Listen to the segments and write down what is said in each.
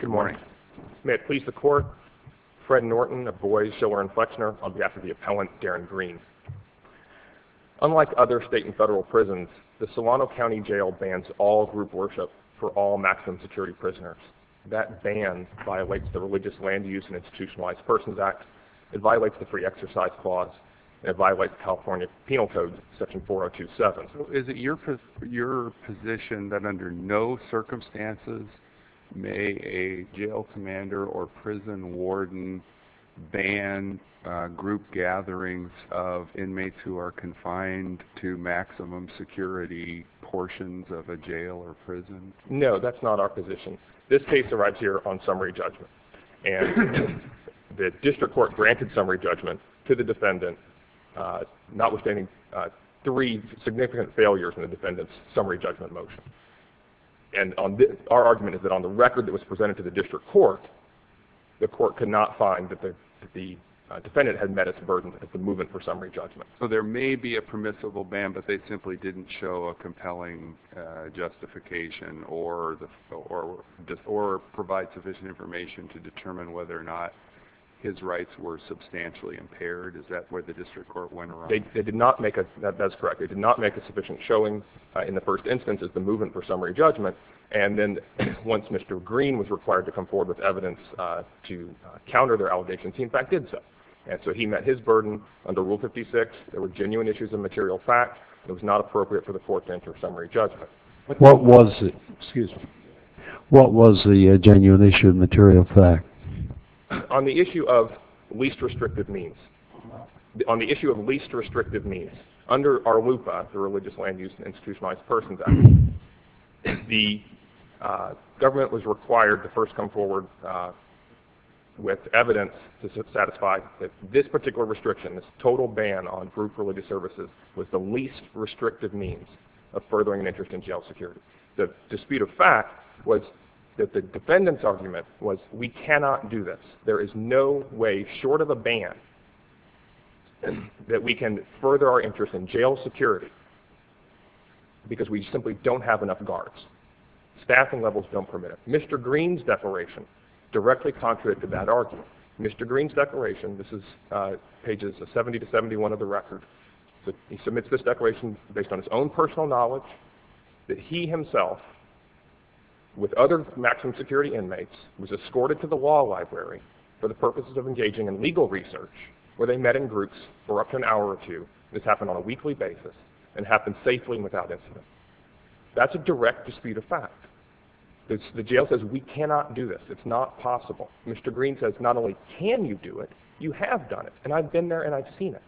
Good morning, may it please the court, Fred Norton, a boy, chiller and flexner, I'll be Unlike other state and federal prisons, the Solano County Jail bans all group worship for all maximum security prisoners, that ban violates the religious land use and institutionalized persons act, it violates the free exercise clause, it violates California penal code section 4027. Is it your position that under no circumstances may a jail commander or prison warden ban group gatherings of inmates who are confined to maximum security portions of a jail or prison? No, that's not our position. This case arrives here on summary judgment. And the district court granted summary judgment to the defendant, notwithstanding three significant failures in the defendant's summary judgment motion. And our argument is that on the record that was presented to the district court, the court could not find that the defendant had met its burden of the movement for summary judgment. So there may be a permissible ban, but they simply didn't show a compelling justification or provide sufficient information to determine whether or not his rights were substantially impaired. Is that where the district court went around? That's correct. They did not make a sufficient showing in the first instance of the movement for summary judgment. And then once Mr. Green was required to come forward with evidence to counter their allegations, he in fact did so. And so he met his burden under Rule 56. There were genuine issues of material fact. It was not appropriate for the court to enter summary judgment. What was the genuine issue of material fact? On the issue of least restrictive means, under ARLUPA, the Religious Land Use and Institutionalized Persons Act, the total ban on group religious services was the least restrictive means of furthering an interest in jail security. The dispute of fact was that the defendant's argument was we cannot do this. There is no way short of a ban that we can further our interest in jail security because we simply don't have enough guards. Staffing levels don't permit it. Mr. Green's declaration directly contradicted that argument. Mr. Green's declaration, this is pages 70 to 71 of the record. He submits this declaration based on his own personal knowledge that he himself, with other maximum security inmates, was escorted to the law library for the purposes of engaging in legal research where they met in groups for up to an hour or two. This happened on a weekly basis and happened safely and without incident. That's a direct dispute of fact. The jail says we cannot do this. It's not possible. Mr. Green says not only can you do it, you have done it. And I've been there and I've seen it.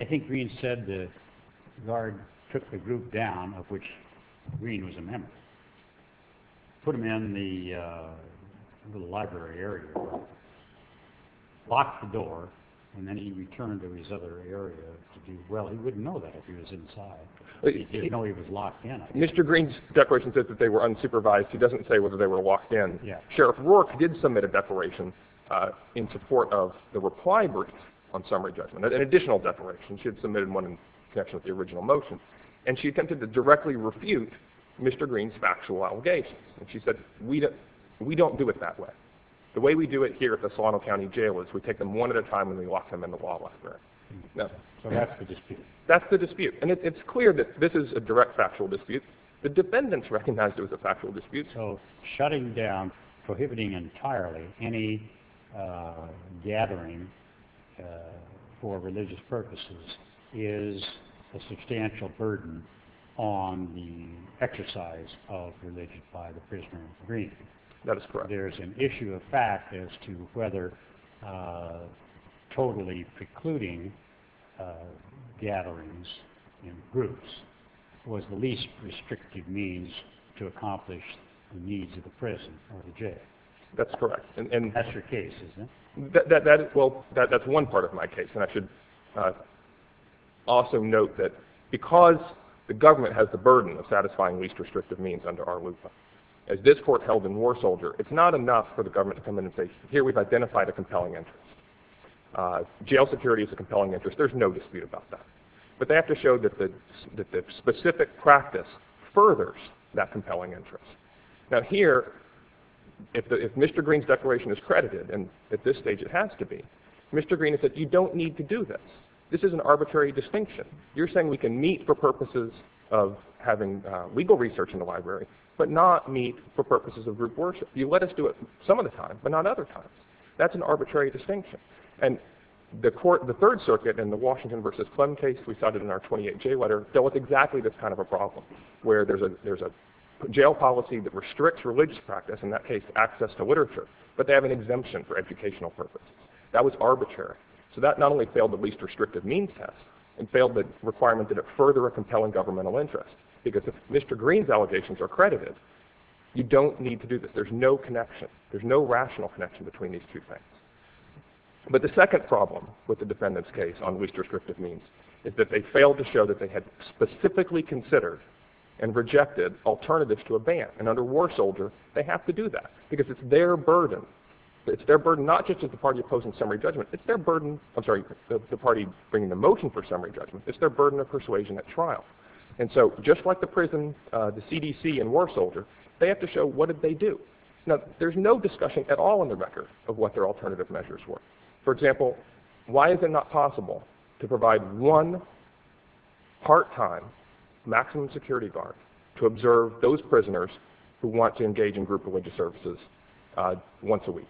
I think Green said the guard took the group down, of which Green was a member, put them in the library area, locked the door, and then he returned to his other area. Well, he wouldn't know that if he was inside. He didn't know he was locked in. Mr. Green's declaration says that they were unsupervised. He doesn't say whether they were locked in. Sheriff Rourke did submit a declaration in support of the reply brief on summary judgment, an additional declaration. She had submitted one in connection with the original motion, and she attempted to directly refute Mr. Green's factual allegations. And she said, we don't do it that way. The way we do it here at the Solano County Jail is we take them one at a time and we lock them in the wall after. So that's the dispute. That's the dispute. And it's clear that this is a direct factual dispute. The defendants recognized it was a factual dispute. So shutting down, prohibiting entirely any gathering for religious purposes is a substantial burden on the exercise of religion by the prisoner in Green. That is correct. There's an issue of fact as to whether totally precluding gatherings in groups was the least restrictive means to accomplish the needs of the prison or the jail. That's correct. That's your case, isn't it? Well, that's one part of my case. And I should also note that because the government has the burden of satisfying least restrictive means under our LUPA, as this court held in War Soldier, it's not enough for the government to come in and say, here, we've identified a compelling interest. Jail security is a compelling interest. There's no dispute about that. But they have to show that the specific practice furthers that compelling interest. Now here, if Mr. Green's declaration is credited, and at this stage it has to be, Mr. Green has said, you don't need to do this. This is an arbitrary distinction. You're saying we can meet for purposes of having legal research in the library, but not meet for purposes of group worship. You let us do it some of the time, but not other times. That's an arbitrary distinction. And the third circuit in the Washington versus Clem case we cited in our 28J letter dealt with exactly this kind of a problem, where there's a jail policy that restricts religious practice, in that case access to literature, but they have an exemption for educational purposes. That was arbitrary. So that not only failed the least restrictive means test, it failed the requirement that it further a compelling governmental interest. Because if Mr. Green's allegations are credited, you don't need to do this. There's no connection. There's no rational connection between these two things. But the second problem with the defendant's case on least restrictive means is that they failed to show that they had specifically considered and rejected alternatives to a ban. And under War Soldier, they have to do that, because it's their burden. It's their burden not just as the party opposing summary judgment. It's their burden, I'm sorry, the party bringing the motion for summary judgment. It's their burden of persuasion at trial. And so just like the prison, the CDC and War Soldier, they have to show what did they do. Now, there's no discussion at all in the record of what their alternative measures were. For example, why is it not possible to provide one part-time maximum security guard to observe those prisoners who want to engage in group religious services once a week?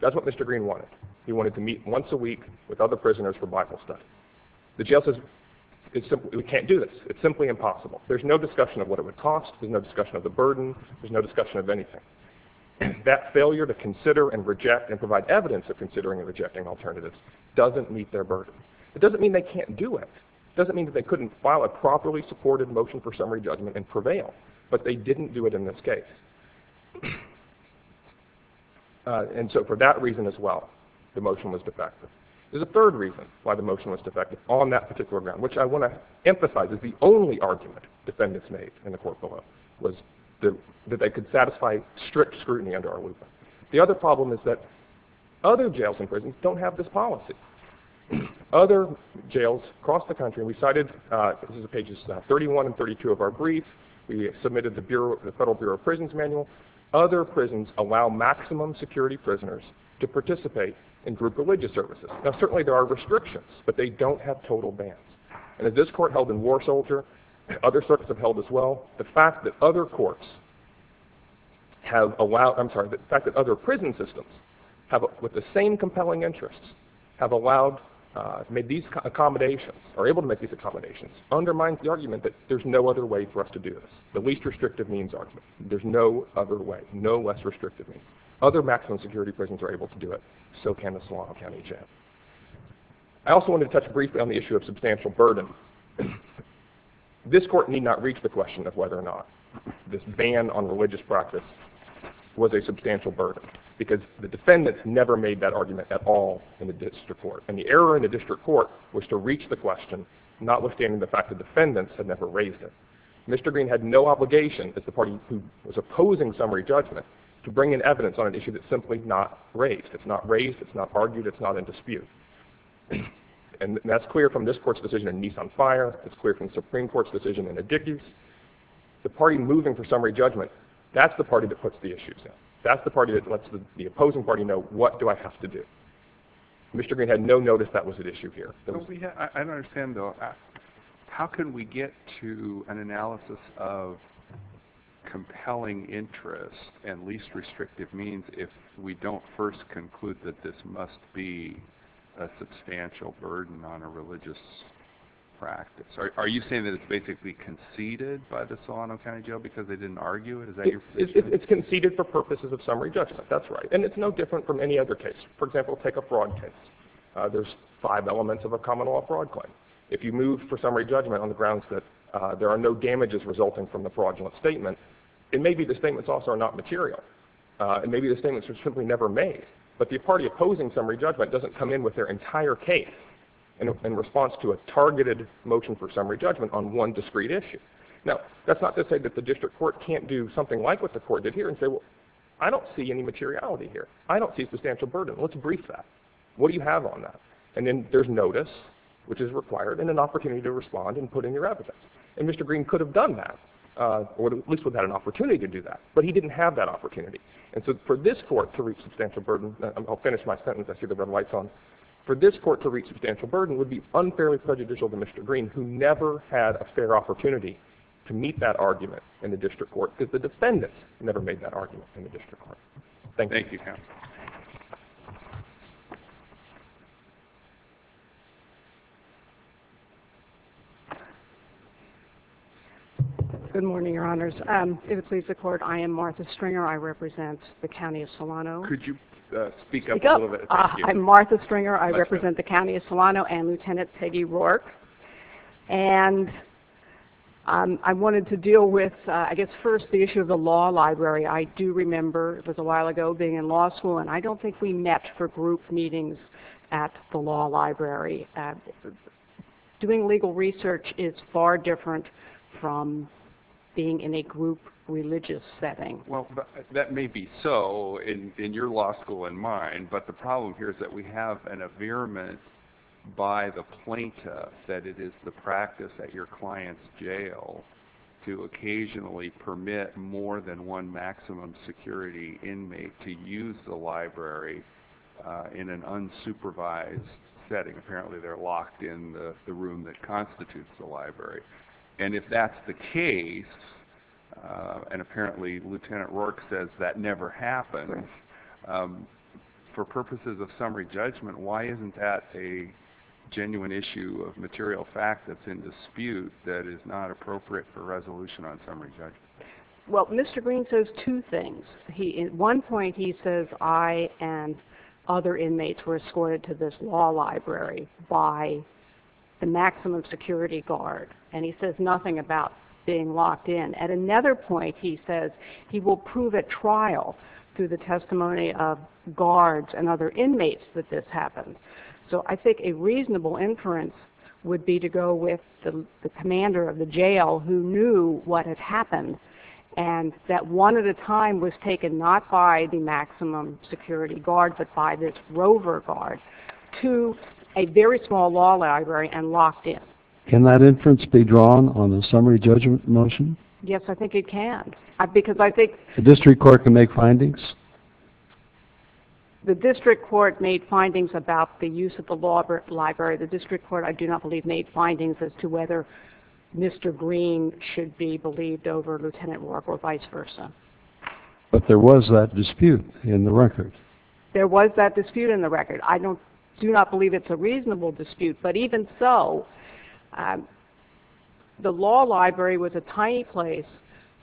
That's what Mr. Green wanted. He wanted to meet once a week with other prisoners for Bible study. The jail says, we can't do this. It's simply impossible. There's no discussion of what it would cost. There's no discussion of the burden. There's no discussion of anything. That failure to consider and reject and provide evidence of considering and rejecting alternatives doesn't meet their burden. It doesn't mean they can't do it. It doesn't mean that they couldn't file a properly supported motion for summary judgment and prevail. But they didn't do it in this case. And so for that reason as well, the motion was defective. There's a third reason why the motion was defective on that particular ground, which I want to emphasize is the only argument defendants made in the court below was that they could satisfy strict scrutiny under our loop. The other problem is that other jails and prisons don't have this policy. Other jails across the country, we cited pages 31 and 32 of our brief. We submitted the Federal Bureau of Prisons manual. Other prisons allow maximum security prisoners to participate in group religious services. Now, certainly there are restrictions, but they don't have total bans. And as this court held in War Soldier, other circuits have held as well. The fact that other courts have allowed, I'm sorry, the fact that other prison systems have, with the same compelling interests, have allowed, made these accommodations, are able to make these accommodations, undermines the argument that there's no other way for us to do this, the least restrictive means argument. There's no other way, no less restrictive means. Other maximum security prisons are able to do it. So can the Solano County Jail. I also want to touch briefly on the issue of substantial burden. This court need not reach the question of whether or not this ban on religious practice was a substantial burden, because the defendants never made that argument at all in the district court. And the error in the district court was to reach the question, notwithstanding the fact the defendants had never raised it. Mr. Green had no obligation, as the party who was opposing summary judgment, to bring in evidence on an issue that's simply not raised. It's not raised, it's not argued, it's not in dispute. And that's clear from this court's decision in Nissan Fire. It's clear from the Supreme Court's decision in Addicus. The party moving for summary judgment, that's the party that puts the issues in. That's the party that lets the opposing party know, what do I have to do? Mr. Green had no notice that was at issue here. I don't understand, though. How can we get to an analysis of compelling interest and least restrictive means if we don't first conclude that this must be a substantial burden on a religious practice? Are you saying that it's basically conceded by the Solano County Jail because they didn't argue it? It's conceded for purposes of summary judgment, that's right. And it's no different from any other case. For example, take a fraud case. There's five elements of a common law fraud claim. If you move for summary judgment on the grounds that there are no damages resulting from the fraudulent statement, it may be the statements also are not material. It may be the statements were simply never made. But the party opposing summary judgment doesn't come in with their entire case in response to a targeted motion for summary judgment on one discrete issue. Now, that's not to say that the district court can't do something like what the court did here and say, well, I don't see any materiality here. I don't see substantial burden. Let's brief that. What do you have on that? And then there's notice, which is required, and an opportunity to respond and put in your evidence. And Mr. Green could have done that, or at least would have had an opportunity to do that. But he didn't have that opportunity. And so for this court to reach substantial burden, I'll finish my sentence. I see the red lights on. For this court to reach substantial burden would be unfairly prejudicial to Mr. Green, who never had a fair opportunity to meet that argument in the district court because the defendant never made that argument in the district court. Thank you. Thank you. Good morning, Your Honors. If it pleases the court, I am Martha Stringer. I represent the County of Solano. Could you speak up a little bit? I'm Martha Stringer. I represent the County of Solano and Lieutenant Peggy Rourke. And I wanted to deal with, I guess, first the issue of the law library. I do remember it was a while ago being in law school, and I don't think we met for group meetings at the law library. Doing legal research is far different from being in a group religious setting. Well, that may be so in your law school and mine, but the problem here is that we have an affirmation by the plaintiff that it is the practice at your client's jail to occasionally permit more than one maximum security inmate to use the library in an unsupervised setting. Apparently they're locked in the room that constitutes the library. And if that's the case, and apparently Lieutenant Rourke says that never happens, for purposes of summary judgment, why isn't that a genuine issue of material fact that's in dispute that is not appropriate for resolution on summary judgment? Well, Mr. Green says two things. At one point he says, I and other inmates were escorted to this law library by the maximum security guard, and he says nothing about being locked in. At another point he says he will prove at trial, through the testimony of guards and other inmates, that this happened. So I think a reasonable inference would be to go with the commander of the jail who knew what had happened, and that one at a time was taken not by the maximum security guard but by this rover guard to a very small law library and locked in. Can that inference be drawn on the summary judgment motion? Yes, I think it can. Because I think... The district court can make findings? The district court made findings about the use of the law library. The district court, I do not believe, made findings as to whether Mr. Green should be believed over Lieutenant Rourke or vice versa. But there was that dispute in the record. There was that dispute in the record. I do not believe it's a reasonable dispute, but even so, the law library was a tiny place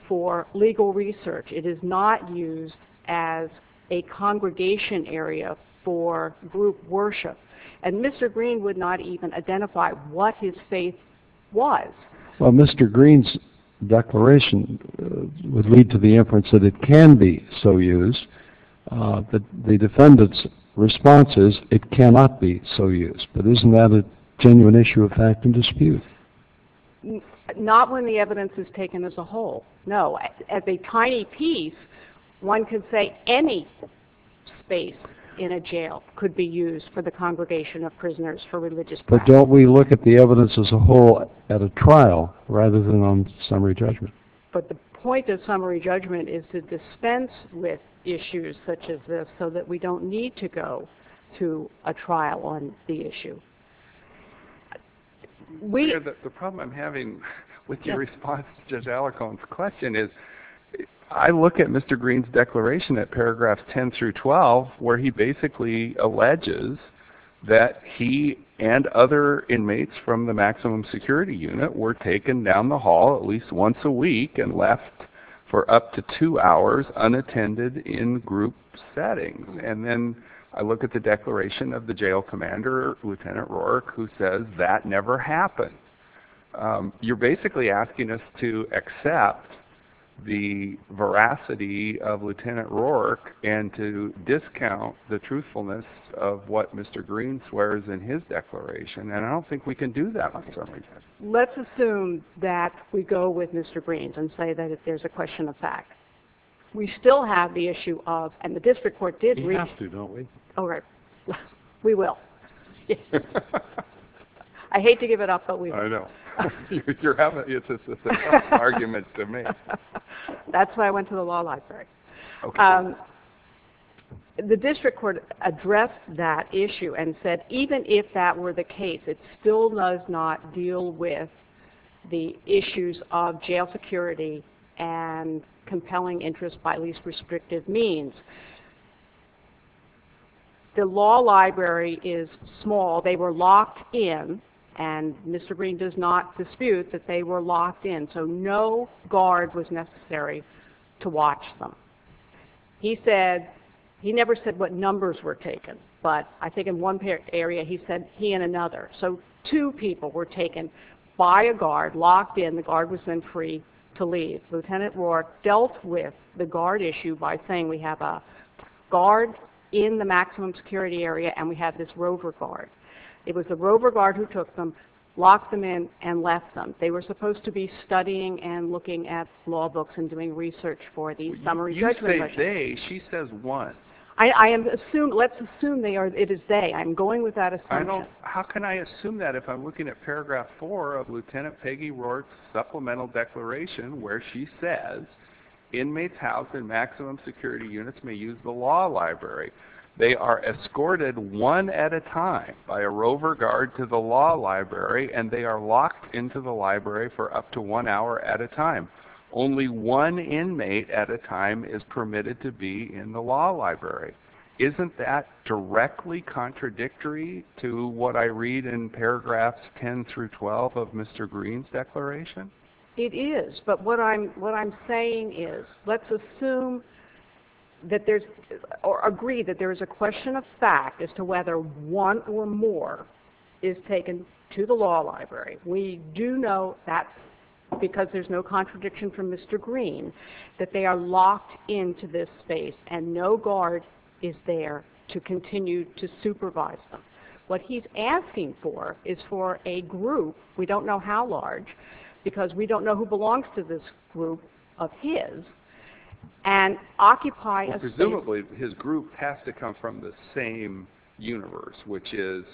for legal research. It is not used as a congregation area for group worship. And Mr. Green would not even identify what his faith was. Well, Mr. Green's declaration would lead to the inference that it can be so used, but the defendant's response is it cannot be so used. But isn't that a genuine issue of fact and dispute? Not when the evidence is taken as a whole, no. As a tiny piece, one can say any space in a jail could be used for the congregation of prisoners, for religious practice. But don't we look at the evidence as a whole at a trial rather than on summary judgment? But the point of summary judgment is to dispense with issues such as this so that we don't need to go to a trial on the issue. The problem I'm having with your response to Judge Alicorn's question is I look at Mr. Green's declaration at paragraphs 10 through 12 where he basically alleges that he and other inmates from the maximum security unit were taken down the hall at least once a week and left for up to two hours unattended in group settings. And then I look at the declaration of the jail commander, Lieutenant Rourke, who says that never happened. You're basically asking us to accept the veracity of Lieutenant Rourke and to discount the truthfulness of what Mr. Green swears in his declaration, and I don't think we can do that on summary judgment. Let's assume that we go with Mr. Green's and say that if there's a question of fact, we still have the issue of, and the district court did read it. We have to, don't we? Oh, right. We will. I hate to give it up, but we will. I know. You're having an argument to me. That's why I went to the law library. Okay. The district court addressed that issue and said even if that were the case, it still does not deal with the issues of jail security and compelling interest by least restrictive means. The law library is small. They were locked in, and Mr. Green does not dispute that they were locked in, so no guard was necessary to watch them. He said, he never said what numbers were taken, but I think in one area he said he and another. So two people were taken by a guard, locked in. The guard was then free to leave. Lieutenant Roark dealt with the guard issue by saying we have a guard in the maximum security area and we have this rover guard. It was the rover guard who took them, locked them in, and left them. They were supposed to be studying and looking at law books and doing research for the summary judgment. You say they. She says what? Let's assume it is they. I'm going with that assumption. How can I assume that if I'm looking at paragraph four of Lieutenant Peggy Roark's supplemental declaration where she says inmates housed in maximum security units may use the law library. They are escorted one at a time by a rover guard to the law library, and they are locked into the library for up to one hour at a time. Only one inmate at a time is permitted to be in the law library. Isn't that directly contradictory to what I read in paragraphs 10 through 12 of Mr. Green's declaration? It is, but what I'm saying is let's assume or agree that there is a question of fact as to whether one or more is taken to the law library. We do know that because there's no contradiction from Mr. Green that they are locked into this space and no guard is there to continue to supervise them. What he's asking for is for a group, we don't know how large, because we don't know who belongs to this group of his, and occupy a space. Presumably his group has to come from the same universe, which is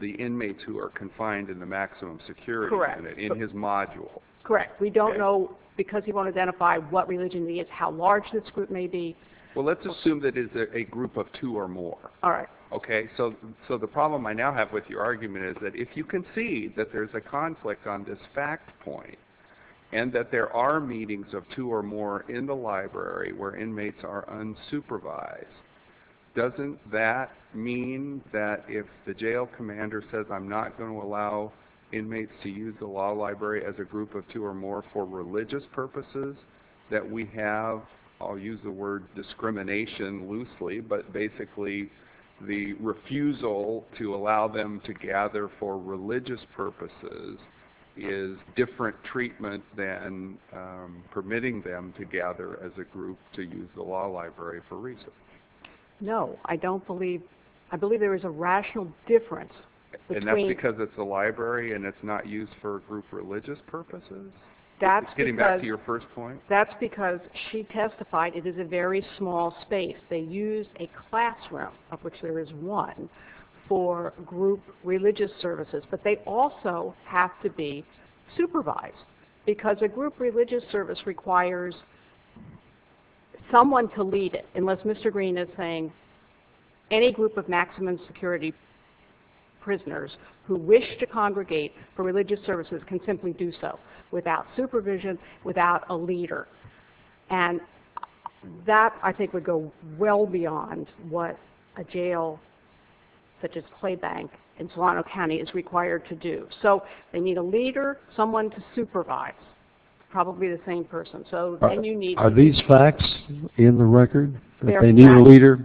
the inmates who are confined in the maximum security unit in his module. Correct. We don't know, because he won't identify what religion he is, how large this group may be. Well, let's assume that it is a group of two or more. All right. Okay, so the problem I now have with your argument is that if you can see that there's a conflict on this fact point and that there are meetings of two or more in the library where inmates are unsupervised, doesn't that mean that if the jail commander says, I'm not going to allow inmates to use the law library as a group of two or more for religious purposes, that we have, I'll use the word discrimination loosely, but basically the refusal to allow them to gather for religious purposes is different treatment than permitting them to gather as a group to use the law library for research. No, I don't believe, I believe there is a rational difference. And that's because it's a library and it's not used for group religious purposes? Getting back to your first point? That's because she testified it is a very small space. They use a classroom, of which there is one, for group religious services, but they also have to be supervised because a group religious service requires someone to lead it, unless Mr. Green is saying any group of maximum security prisoners who wish to congregate for religious services can simply do so without supervision, without a leader. And that, I think, would go well beyond what a jail such as Clay Bank in Toronto County is required to do. So they need a leader, someone to supervise, probably the same person. Are these facts in the record? That they need a leader?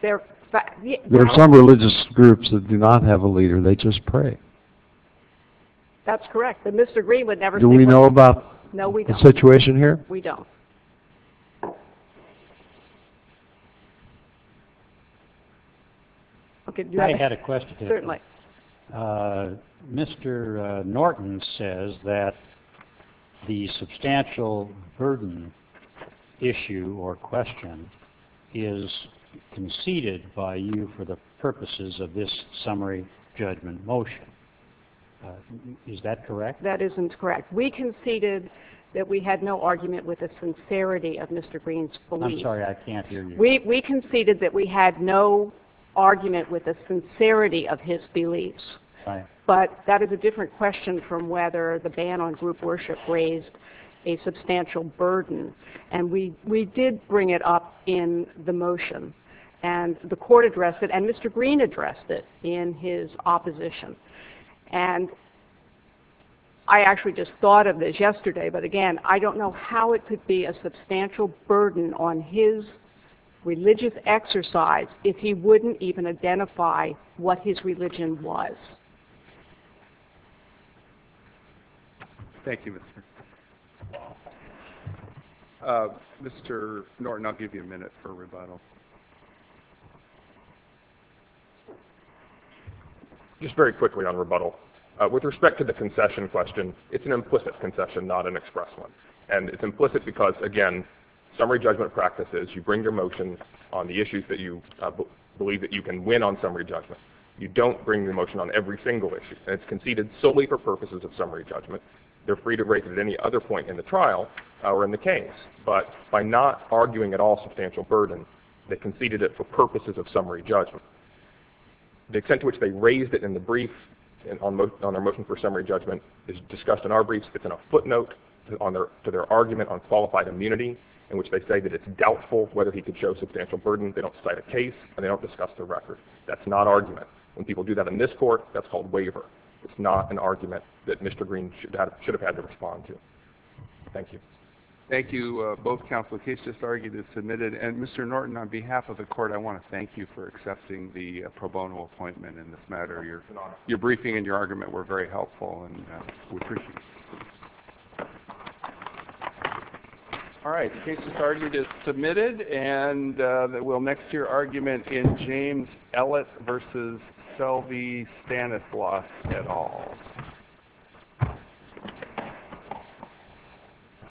There are some religious groups that do not have a leader, they just pray. That's correct. Do we know about the situation here? No, we don't. Mr. Norton says that the substantial burden issue or question is conceded by you for the purposes of this summary judgment motion. Is that correct? That isn't correct. We conceded that we had no argument with the sincerity of Mr. Green's beliefs. I'm sorry, I can't hear you. We conceded that we had no argument with the sincerity of his beliefs, but that is a different question from whether the ban on group worship raised a substantial burden. And we did bring it up in the motion. And the court addressed it, and Mr. Green addressed it in his opposition. And I actually just thought of this yesterday, but again, I don't know how it could be a substantial burden on his religious exercise if he wouldn't even identify what his religion was. Thank you, Mr. Mr. Norton, I'll give you a minute for rebuttal. Just very quickly on rebuttal, with respect to the concession question, it's an implicit concession, not an express one. And it's implicit because, again, summary judgment practices, you bring your motion on the issues that you believe that you can win on summary judgment. You don't bring your motion on every single issue. And it's conceded solely for purposes of summary judgment. They're free to raise it at any other point in the trial or in the case. But by not arguing at all substantial burden, they conceded it for purposes of summary judgment. The extent to which they raised it in the brief on their motion for summary judgment is discussed in our briefs. It's in a footnote to their argument on qualified immunity, in which they say that it's doubtful whether he could show substantial burden. They don't cite a case, and they don't discuss the record. That's not argument. When people do that in this court, that's called waiver. It's not an argument that Mr. Green should have had to respond to. Thank you. Thank you, both counsel. The case just argued is submitted. And, Mr. Norton, on behalf of the court, I want to thank you for accepting the pro bono appointment in this matter. Your briefing and your argument were very helpful, and we appreciate it. All right, the case just argued is submitted. And we'll next hear argument in James Ellett v. Selby-Stanislaus et al.